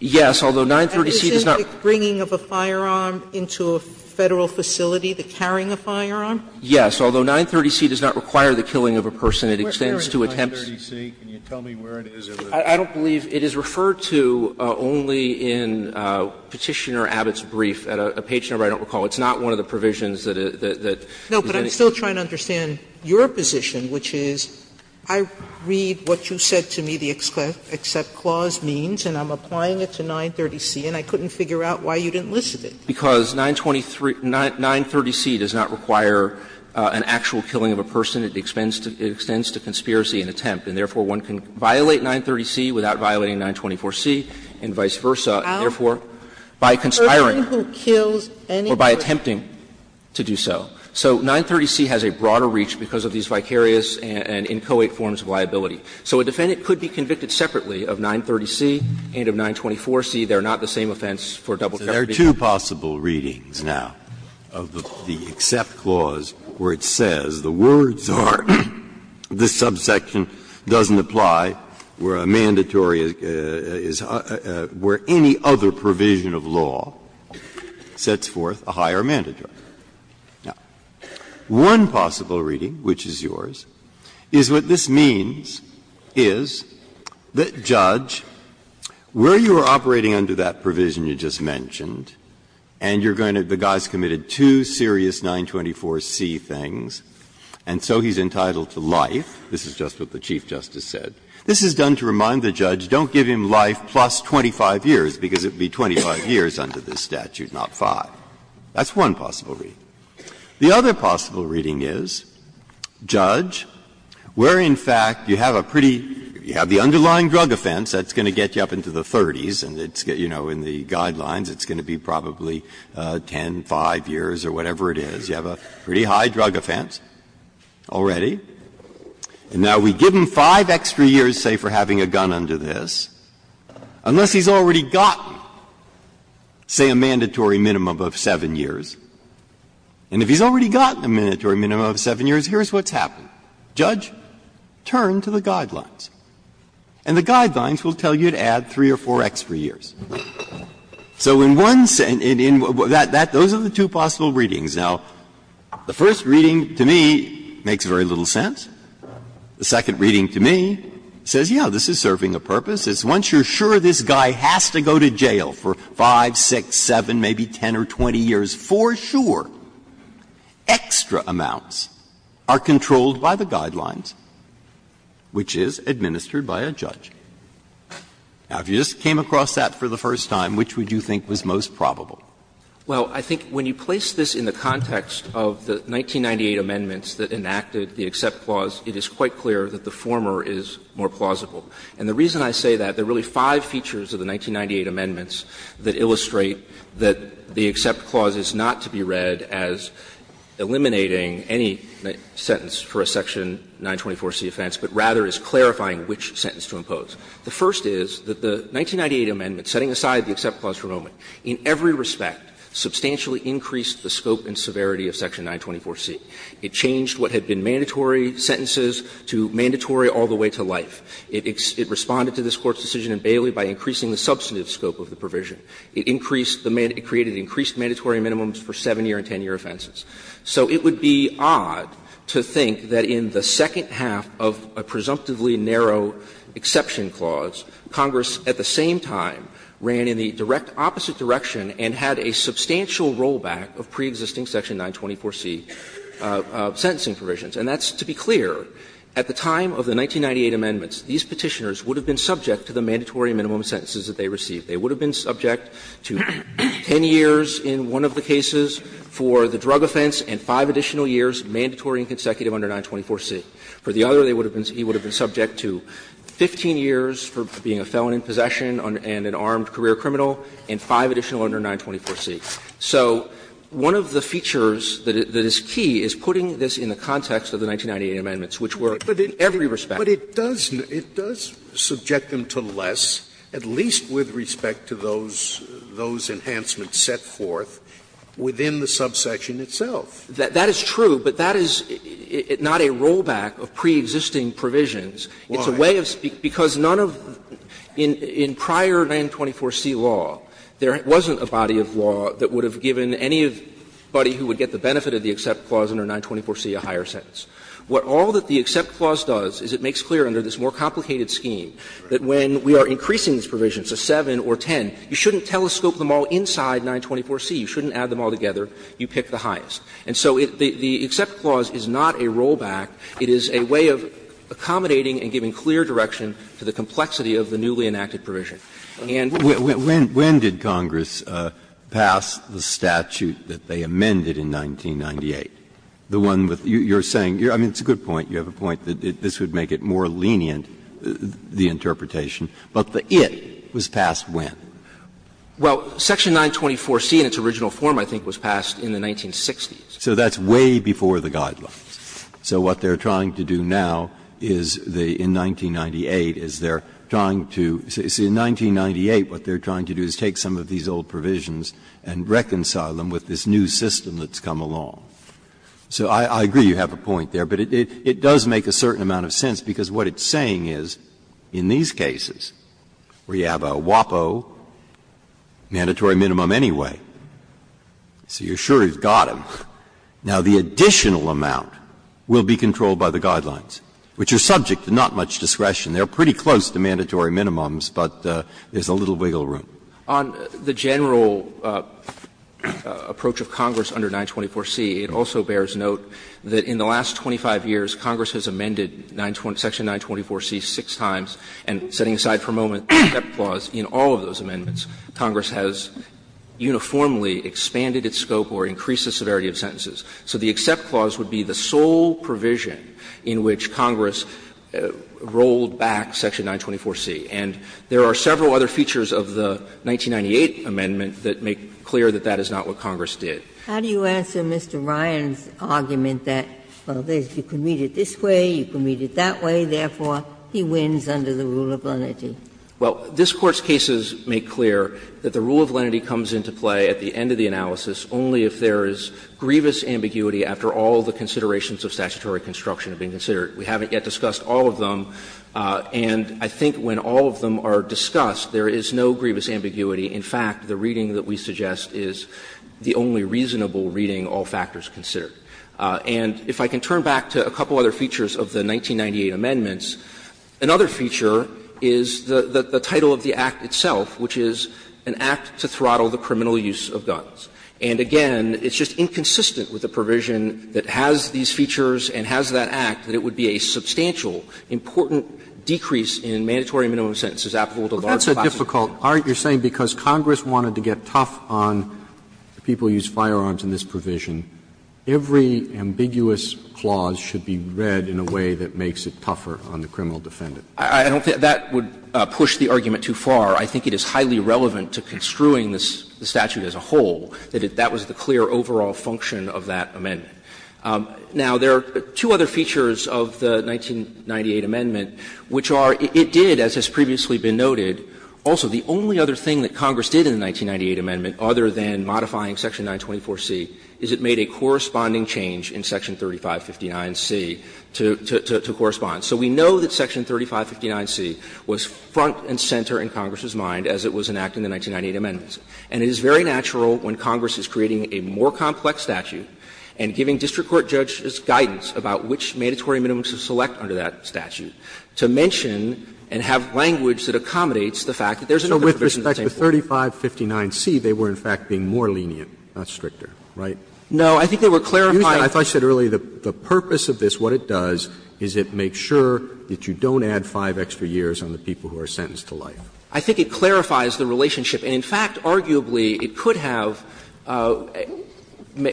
Yes, although 930c does not And isn't the bringing of a firearm into a Federal facility the carrying a firearm? Yes. Although 930c does not require the killing of a person, it extends to attempts Where is 930c? Can you tell me where it is? I don't believe it is referred to only in Petitioner Abbott's brief at a page number. I don't recall. It's not one of the provisions that is in it. No, but I'm still trying to understand your position, which is I read what you said to me the Except Clause means, and I'm applying it to 930c, and I couldn't figure out why you didn't list it. Because 930c does not require an actual killing of a person. It extends to conspiracy and attempt. And therefore, one can violate 930c without violating 924c and vice versa, and therefore, by conspiring or by attempting to do so. So 930c has a broader reach because of these vicarious and inchoate forms of liability. So a defendant could be convicted separately of 930c and of 924c. They are not the same offense for double jeopardy. Breyer. There are two possible readings now of the Except Clause, where it says the words are, this subsection doesn't apply, where a mandatory is, where any other provision of law sets forth a higher mandatory. Now, one possible reading, which is yours, is what this means is that, Judge, where you are operating under that provision you just mentioned, and you're going to the guy's committed two serious 924c things, and so he's entitled to life, this is just what the Chief Justice said, this is done to remind the judge, don't give him life plus 25 years, because it would be 25 years under this statute, not 5. That's one possible reading. The other possible reading is, Judge, where in fact you have a pretty – you have the underlying drug offense, that's going to get you up into the 30s, and it's, you know, in the Guidelines it's going to be probably 10, 5 years or whatever it is. You have a pretty high drug offense already, and now we give him 5 extra years, say, for having a gun under this, unless he's already gotten, say, a mandatory minimum of 7 years. And if he's already gotten a mandatory minimum of 7 years, here's what's happened. Judge, turn to the Guidelines, and the Guidelines will tell you to add 3 or 4 extra years. So in one – those are the two possible readings. Now, the first reading to me makes very little sense. The second reading to me says, yes, this is serving a purpose. It's once you're sure this guy has to go to jail for 5, 6, 7, maybe 10 or 20 years for sure, extra amounts are controlled by the Guidelines, which is administered by a judge. Now, if you just came across that for the first time, which would you think was most probable? Well, I think when you place this in the context of the 1998 amendments that enacted the EXCEPT clause, it is quite clear that the former is more plausible. And the reason I say that, there are really five features of the 1998 amendments that illustrate that the EXCEPT clause is not to be read as eliminating any sentence for a section 924c offense, but rather is clarifying which sentence to impose. The first is that the 1998 amendment, setting aside the EXCEPT clause for a moment, in every respect substantially increased the scope and severity of section 924c. It changed what had been mandatory sentences to mandatory all the way to life. It responded to this Court's decision in Bailey by increasing the substantive scope of the provision. It increased the man – it created increased mandatory minimums for 7-year and 10-year offenses. So it would be odd to think that in the second half of a presumptively narrow EXCEPT clause, Congress at the same time ran in the direct opposite direction and had a substantial rollback of preexisting section 924c sentencing provisions. And that's to be clear. At the time of the 1998 amendments, these Petitioners would have been subject to the mandatory minimum sentences that they received. They would have been subject to 10 years in one of the cases for the drug offense and five additional years, mandatory and consecutive, under 924c. For the other, they would have been – he would have been subject to 15 years for being a felon in possession and an armed career criminal and five additional under 924c. So one of the features that is key is putting this in the context of the 1998 amendments, which were in every respect. Scalia But it does subject them to less, at least with respect to those enhancements set forth within the subsection itself. That is true, but that is not a rollback of preexisting provisions. It's a way of – because none of – in prior 924c law, there wasn't a body of law that would have given anybody who would get the benefit of the EXCEPT clause under 924c a higher sentence. What all that the EXCEPT clause does is it makes clear under this more complicated scheme that when we are increasing these provisions to 7 or 10, you shouldn't telescope them all inside 924c. You shouldn't add them all together. You pick the highest. And so the EXCEPT clause is not a rollback. It is a way of accommodating and giving clear direction to the complexity of the newly enacted provision. Breyer When did Congress pass the statute that they amended in 1998? The one with – you are saying – I mean, it's a good point. You have a point that this would make it more lenient, the interpretation. But the IT was passed when? Well, section 924c in its original form, I think, was passed in the 1960s. So that's way before the guidelines. So what they are trying to do now is the – in 1998 is they are trying to – see, in 1998 what they are trying to do is take some of these old provisions and reconcile them with this new system that's come along. So I agree you have a point there, but it does make a certain amount of sense, because what it's saying is, in these cases, where you have a WAPO, mandatory minimum anyway, so you are sure you have got them. Now, the additional amount will be controlled by the guidelines, which are subject to not much discretion. They are pretty close to mandatory minimums, but there is a little wiggle room. On the general approach of Congress under 924c, it also bears note that in the last 25 years, Congress has amended 924 – section 924c six times, and setting aside for a moment the step clause, in all of those amendments, Congress has uniformly expanded its scope or increased the severity of sentences. So the except clause would be the sole provision in which Congress rolled back section 924c. And there are several other features of the 1998 amendment that make clear that that is not what Congress did. Ginsburg. How do you answer Mr. Ryan's argument that, well, you can read it this way, you can read it that way, therefore, he wins under the rule of lenity? Well, this Court's cases make clear that the rule of lenity comes into play at the end of the analysis only if there is grievous ambiguity after all the considerations of statutory construction have been considered. We haven't yet discussed all of them, and I think when all of them are discussed, there is no grievous ambiguity. In fact, the reading that we suggest is the only reasonable reading all factors consider. And if I can turn back to a couple other features of the 1998 amendments, another feature is the title of the act itself, which is an act to throttle the criminal use of guns. And again, it's just inconsistent with the provision that has these features and has that act that it would be a substantial, important decrease in mandatory minimum sentences applicable to a large class of people. Roberts, you're saying because Congress wanted to get tough on the people who use firearms in this provision, every ambiguous clause should be read in a way that makes it tougher on the criminal defendant. I don't think that would push the argument too far. I think it is highly relevant to construing the statute as a whole, that that was the clear overall function of that amendment. Now, there are two other features of the 1998 amendment, which are it did, as has previously been noted, also the only other thing that Congress did in the 1998 amendment, other than modifying section 924C, is it made a corresponding change in section 3559C to correspond. So we know that section 3559C was front and center in Congress's mind as it was enacted in the 1998 amendments. And it is very natural when Congress is creating a more complex statute and giving district court judges guidance about which mandatory minimums to select under that statute to mention and have language that accommodates the fact that there is another provision that's in the same form. Roberts, with respect to 3559C, they were in fact being more lenient, not stricter, right? No, I think they were clarifying. I thought you said earlier the purpose of this, what it does, is it makes sure that you don't add 5 extra years on the people who are sentenced to life. I think it clarifies the relationship. And in fact, arguably, it could have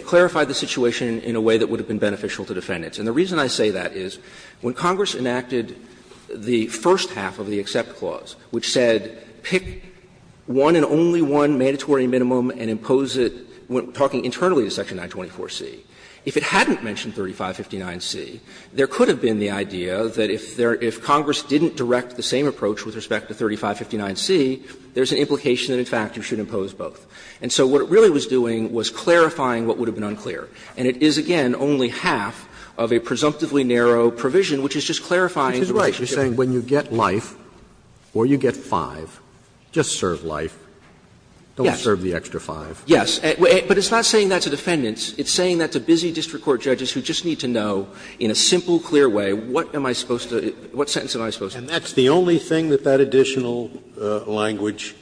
clarified the situation in a way that would have been beneficial to defendants. And the reason I say that is when Congress enacted the first half of the accept clause, which said pick one and only one mandatory minimum and impose it, talking internally to section 924C, if it hadn't mentioned 3559C, there could have been the idea that if Congress didn't direct the same approach with respect to 3559C, there's an implication that in fact you should impose both. And so what it really was doing was clarifying what would have been unclear. And it is, again, only half of a presumptively narrow provision which is just clarifying the relationship. Roberts, you're saying when you get life or you get 5, just serve life, don't serve the extra 5. Yes. But it's not saying that to defendants. It's saying that to busy district court judges who just need to know in a simple, clear way, what am I supposed to do, what sentence am I supposed to do. And that's the only thing that that additional language,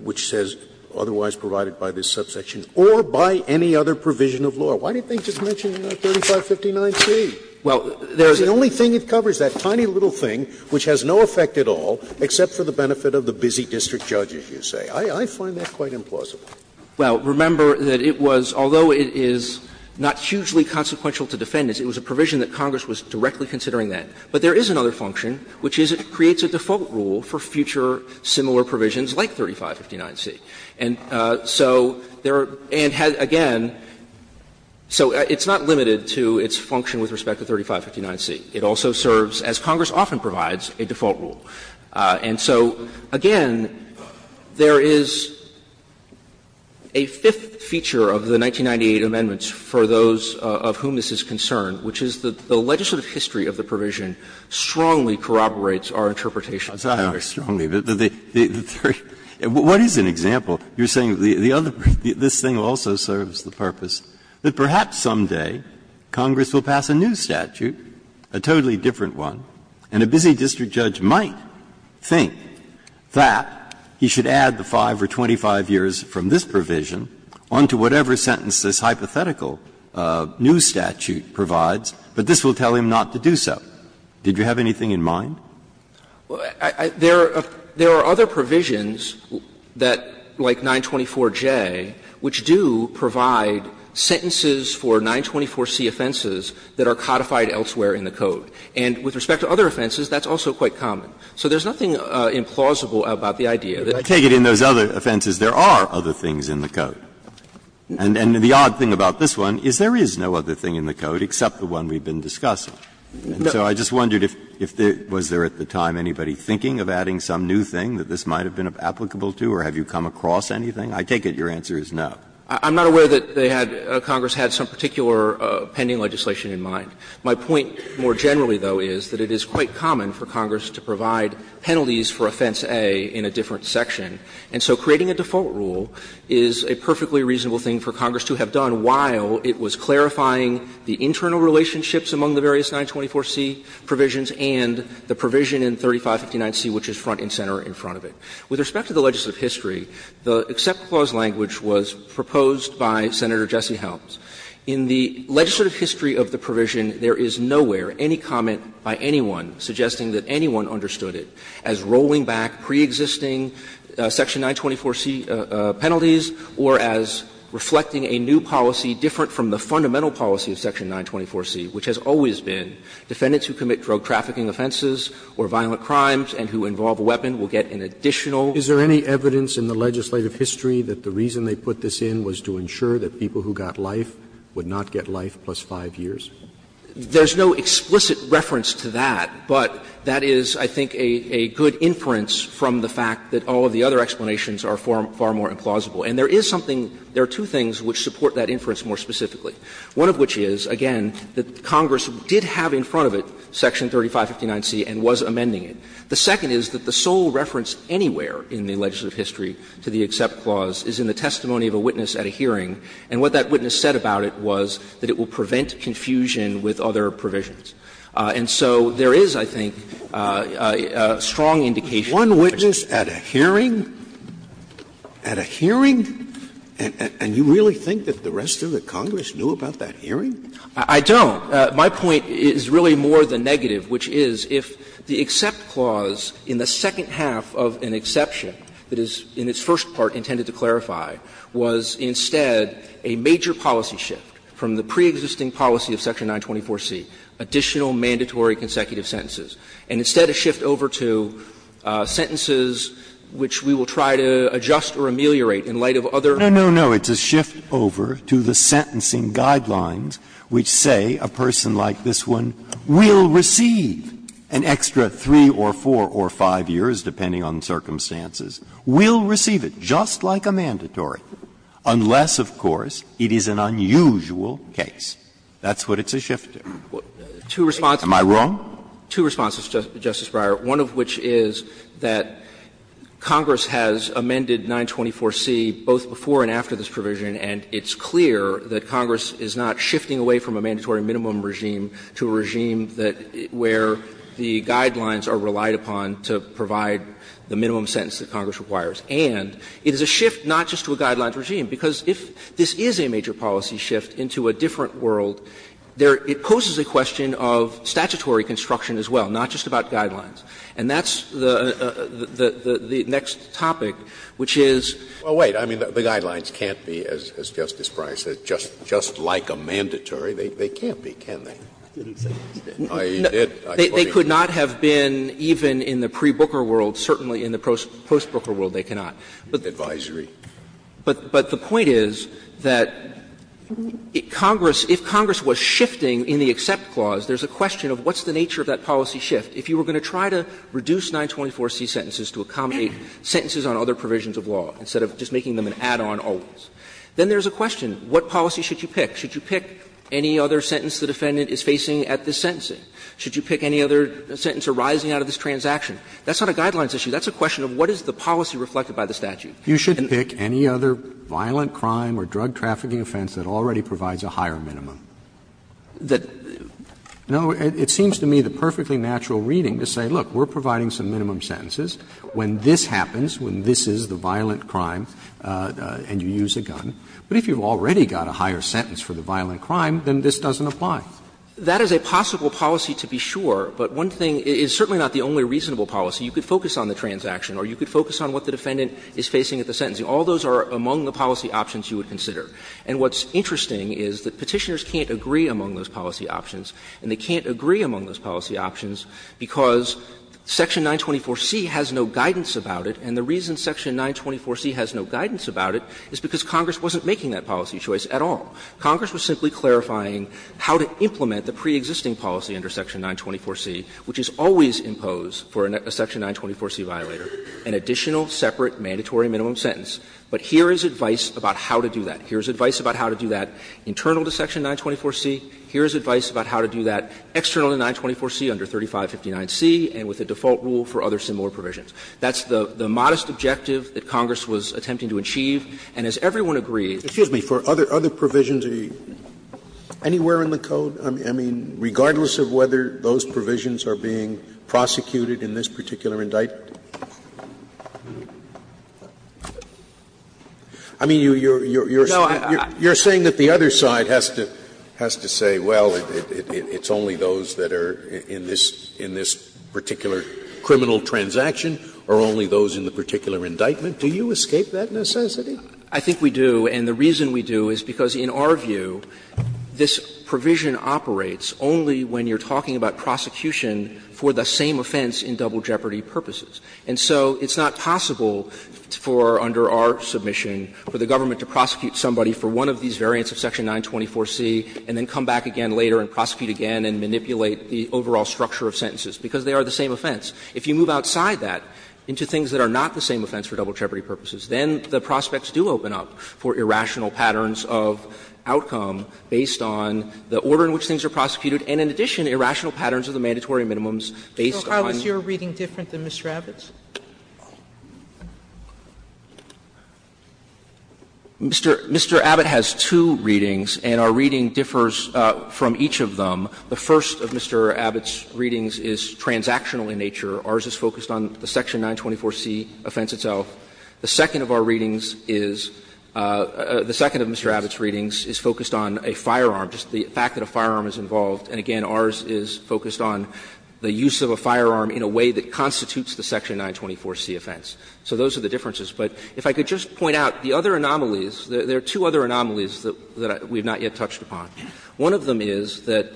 which says otherwise provided by this subsection, or by any other provision of law. Why didn't they just mention 3559C? Well, there is a thing. The only thing it covers, that tiny little thing which has no effect at all except for the benefit of the busy district judges, you say. I find that quite implausible. Well, remember that it was, although it is not hugely consequential to defendants, it was a provision that Congress was directly considering then. But there is another function, which is it creates a default rule for future similar provisions like 3559C. And so there are, and again, so it's not limited to its function with respect to 3559C. It also serves, as Congress often provides, a default rule. And so, again, there is a fifth feature of the 1998 amendments for those of whom this is concerned, which is that the legislative history of the provision strongly corroborates our interpretation. Breyer. Breyer. What is an example? You're saying the other, this thing also serves the purpose that perhaps someday Congress will pass a new statute, a totally different one, and a busy district judge might think that he should add the 5 or 25 years from this provision onto whatever sentence this hypothetical new statute provides, but this will tell him not to do so. Did you have anything in mind? There are other provisions that, like 924J, which do provide sentences for 924C offenses that are codified elsewhere in the Code. And with respect to other offenses, that's also quite common. So there's nothing implausible about the idea that the statute is not going to be changed. Breyer. I take it in those other offenses, there are other things in the Code. And the odd thing about this one is there is no other thing in the Code except the one we've been discussing. And so I just wondered if there, was there at the time anybody thinking of adding some new thing that this might have been applicable to, or have you come across anything? I take it your answer is no. I'm not aware that they had, Congress had some particular pending legislation in mind. My point more generally, though, is that it is quite common for Congress to provide penalties for Offense A in a different section. And so creating a default rule is a perfectly reasonable thing for Congress to have done while it was clarifying the internal relationships among the various 924C provisions and the provision in 3559C, which is front and center in front of it. With respect to the legislative history, the except clause language was proposed by Senator Jesse Helms. In the legislative history of the provision, there is nowhere any comment by anyone suggesting that anyone understood it as rolling back preexisting section 924C penalties or as reflecting a new policy different from the fundamental policy of section 924C, which has always been defendants who commit drug trafficking offenses or violent crimes and who involve a weapon will get an additional. Roberts. Roberts. Is there any evidence in the legislative history that the reason they put this in was to ensure that people who got life would not get life plus 5 years? There's no explicit reference to that, but that is, I think, a good inference from the fact that all of the other explanations are far more implausible. And there is something – there are two things which support that inference more specifically. One of which is, again, that Congress did have in front of it section 3559C and was amending it. The second is that the sole reference anywhere in the legislative history to the except clause is in the testimony of a witness at a hearing, and what that witness said about it was that it will prevent confusion with other provisions. And so there is, I think, a strong indication that that's true. Scalia, one witness at a hearing? At a hearing? And you really think that the rest of the Congress knew about that hearing? I don't. My point is really more the negative, which is, if the except clause in the second half of an exception that is, in its first part, intended to clarify, was instead a major policy shift from the preexisting policy of section 924C, additional mandatory consecutive sentences, and instead a shift over to sentences which we will try to adjust or ameliorate in light of other. Breyer, No, no, no. It's a shift over to the sentencing guidelines which say a person like this one will receive an extra 3 or 4 or 5 years, depending on circumstances. Will receive it, just like a mandatory, unless, of course, it is an unusual case. That's what it's a shift to. Am I wrong? Two responses, Justice Breyer. One of which is that Congress has amended 924C both before and after this provision, and it's clear that Congress is not shifting away from a mandatory minimum regime to a regime that where the guidelines are relied upon to provide the minimum sentence that Congress requires. And it is a shift not just to a guidelines regime, because if this is a major policy shift into a different world, there — it poses a question of statutory construction as well, not just about guidelines. And that's the next topic, which is — Well, wait. I mean, the guidelines can't be, as Justice Breyer said, just like a mandatory. They can't be, can they? They could not have been even in the pre-Booker world, certainly in the post-Booker world they cannot. But the point is that Congress — if Congress was shifting in the EXCEPT clause, there's a question of what's the nature of that policy shift. If you were going to try to reduce 924C sentences to accommodate sentences on other provisions of law, instead of just making them an add-on always, then there's a question, what policy should you pick? Should you pick any other sentence the defendant is facing at this sentencing? Should you pick any other sentence arising out of this transaction? That's not a guidelines issue. That's a question of what is the policy reflected by the statute. And— Roberts, you should pick any other violent crime or drug trafficking offense that already provides a higher minimum. That— No. It seems to me the perfectly natural reading to say, look, we're providing some minimum sentences. When this happens, when this is the violent crime and you use a gun, but if you've already got a higher sentence for the violent crime, then this doesn't apply. That is a possible policy to be sure, but one thing — it's certainly not the only reasonable policy. You could focus on the transaction or you could focus on what the defendant is facing at the sentencing. All those are among the policy options you would consider. And what's interesting is that Petitioners can't agree among those policy options, and they can't agree among those policy options because section 924C has no guidance about it, and the reason section 924C has no guidance about it is because Congress wasn't making that policy choice at all. Congress was simply clarifying how to implement the preexisting policy under section 924C, which is always impose for a section 924C violator an additional separate mandatory minimum sentence. But here is advice about how to do that. Here is advice about how to do that internal to section 924C. Here is advice about how to do that external to 924C under 3559C and with a default rule for other similar provisions. That's the modest objective that Congress was attempting to achieve, and as everyone agrees. Scalia Excuse me, for other provisions, are you anywhere in the code? I mean, regardless of whether those provisions are being prosecuted in this particular indictment? I mean, you're saying that the other side has to say, well, it's only those that are in this particular criminal transaction or only those in the particular indictment. Do you escape that necessity? I think we do, and the reason we do is because, in our view, this provision operates only when you're talking about prosecution for the same offense in double jeopardy purposes. And so it's not possible for, under our submission, for the government to prosecute somebody for one of these variants of section 924C and then come back again later and prosecute again and manipulate the overall structure of sentences, because they are the same offense. And so there are certain circumstances where the courts do open up for irrational patterns of outcome based on the order in which things are prosecuted and, in addition, irrational patterns of the mandatory minimums based on. Sotomayor So how is your reading different than Mr. Abbott's? Mr. Abbott has two readings and our reading differs from each of them. The first of Mr. Abbott's readings is transactional in nature. Ours is focused on the section 924C offense itself. The second of our readings is the second of Mr. Abbott's readings is focused on a firearm, just the fact that a firearm is involved. And again, ours is focused on the use of a firearm in a way that constitutes the section 924C offense. So those are the differences. But if I could just point out, the other anomalies, there are two other anomalies that we have not yet touched upon. One of them is that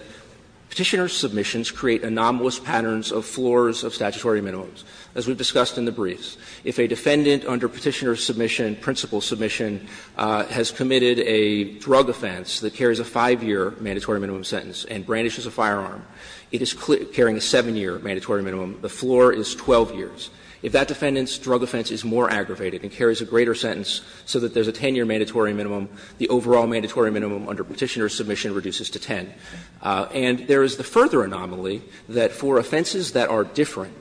Petitioner's submissions create anomalous patterns of floors of statutory minimums. As we've discussed in the briefs, if a defendant under Petitioner's submission, principal submission, has committed a drug offense that carries a 5-year mandatory minimum sentence and brandishes a firearm, it is carrying a 7-year mandatory minimum. The floor is 12 years. If that defendant's drug offense is more aggravated and carries a greater sentence so that there's a 10-year mandatory minimum, the overall mandatory minimum under Petitioner's submission reduces to 10. And there is the further anomaly that for offenses that are different,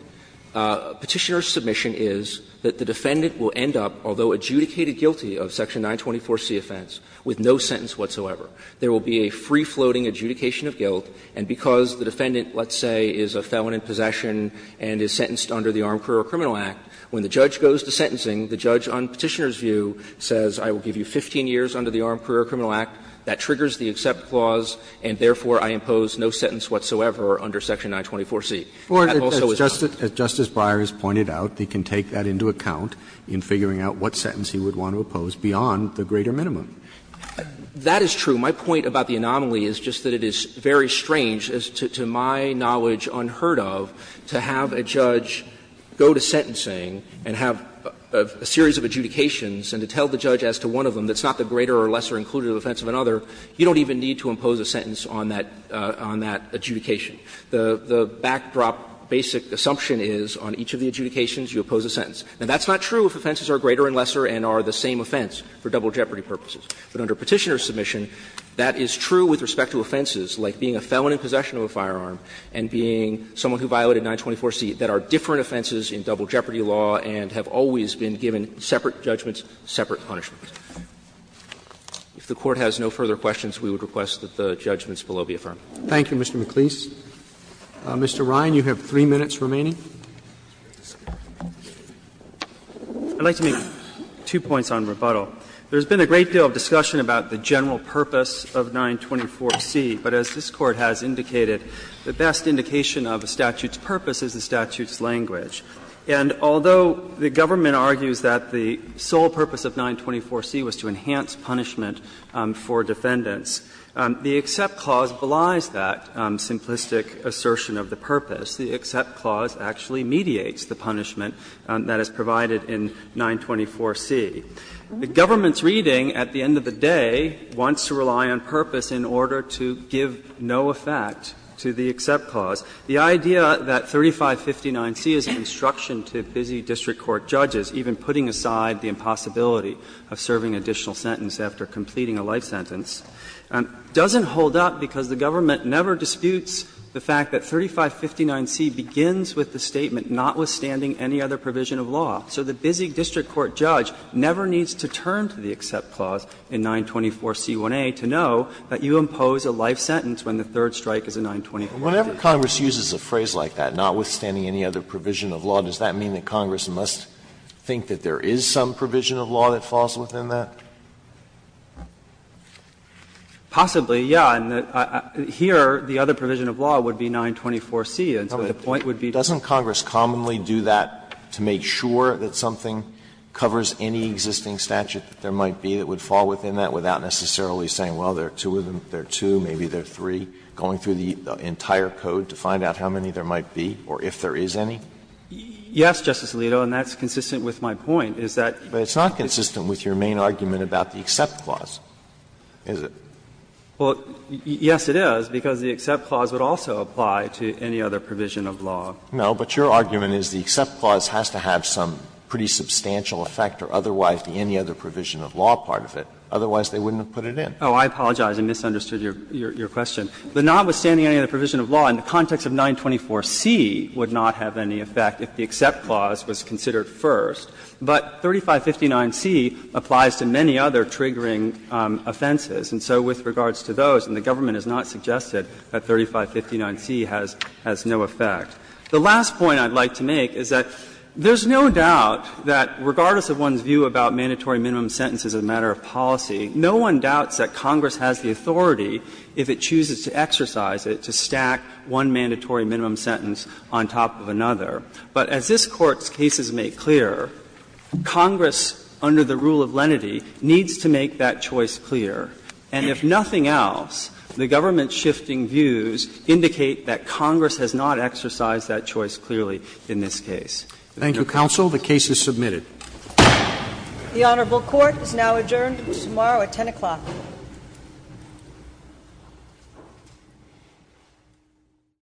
Petitioner's submission is that the defendant will end up, although adjudicated guilty of section 924C offense, with no sentence whatsoever. There will be a free-floating adjudication of guilt, and because the defendant, let's say, is a felon in possession and is sentenced under the Armed Career Criminal Act, when the judge goes to sentencing, the judge on Petitioner's view says, I will give you 15 years under the Armed Career Criminal Act, that triggers the accept clause, and therefore, I impose no sentence whatsoever under section 924C. That also is not true. Roberts, as Justice Breyer has pointed out, he can take that into account in figuring out what sentence he would want to oppose beyond the greater minimum. That is true. My point about the anomaly is just that it is very strange, as to my knowledge unheard of, to have a judge go to sentencing and have a series of adjudications and to tell the judge as to one of them that's not the greater or lesser inclusive offense of another, you don't even need to impose a sentence on that adjudication. The backdrop basic assumption is on each of the adjudications, you oppose a sentence. Now, that's not true if offenses are greater and lesser and are the same offense for double jeopardy purposes. But under Petitioner's submission, that is true with respect to offenses, like being a felon in possession of a firearm and being someone who violated 924C, that are different offenses in double jeopardy law and have always been given separate judgments, separate punishments. If the Court has no further questions, we would request that the judgments below be affirmed. Roberts. Thank you, Mr. McLeese. Mr. Ryan, you have three minutes remaining. I'd like to make two points on rebuttal. There's been a great deal of discussion about the general purpose of 924C, but as this Court has indicated, the best indication of a statute's purpose is the statute's language. And although the government argues that the sole purpose of 924C was to enhance punishment for defendants, the Except Clause belies that simplistic assertion of the purpose. The Except Clause actually mediates the punishment that is provided in 924C. The government's reading at the end of the day wants to rely on purpose in order to give no effect to the Except Clause. The idea that 3559C is an instruction to busy district court judges, even putting aside the impossibility of serving an additional sentence after completing a life sentence, doesn't hold up because the government never disputes the fact that 3559C begins with the statement, notwithstanding any other provision of law. So the busy district court judge never needs to turn to the Except Clause in 924C1A to know that you impose a life sentence when the third strike is a 924C. Alito, whenever Congress uses a phrase like that, notwithstanding any other provision of law, does that mean that Congress must think that there is some provision of law that falls within that? Possibly, yes. And here, the other provision of law would be 924C, and so the point would be to make sure that something covers any existing statute that there might be that would fall within that without necessarily saying, well, there are two of them, there are two, maybe there are three, going through the entire code to find out how many there might be, or if there is any? Yes, Justice Alito, and that's consistent with my point, is that. But it's not consistent with your main argument about the Except Clause, is it? Well, yes, it is, because the Except Clause would also apply to any other provision of law. No, but your argument is the Except Clause has to have some pretty substantial effect or otherwise any other provision of law part of it, otherwise they wouldn't have put it in. Oh, I apologize. I misunderstood your question. The notwithstanding any other provision of law in the context of 924C would not have any effect if the Except Clause was considered first. But 3559C applies to many other triggering offenses. And so with regards to those, and the government has not suggested that 3559C has no effect. The last point I would like to make is that there is no doubt that regardless of one's view about mandatory minimum sentences as a matter of policy, no one doubts that Congress has the authority, if it chooses to exercise it, to stack one mandatory minimum sentence on top of another. But as this Court's cases make clear, Congress, under the rule of lenity, needs to make that choice clear. And if nothing else, the government's shifting views indicate that Congress has not exercised that choice clearly in this case. Thank you. The case is submitted. The Honorable Court is now adjourned until tomorrow at 10 o'clock.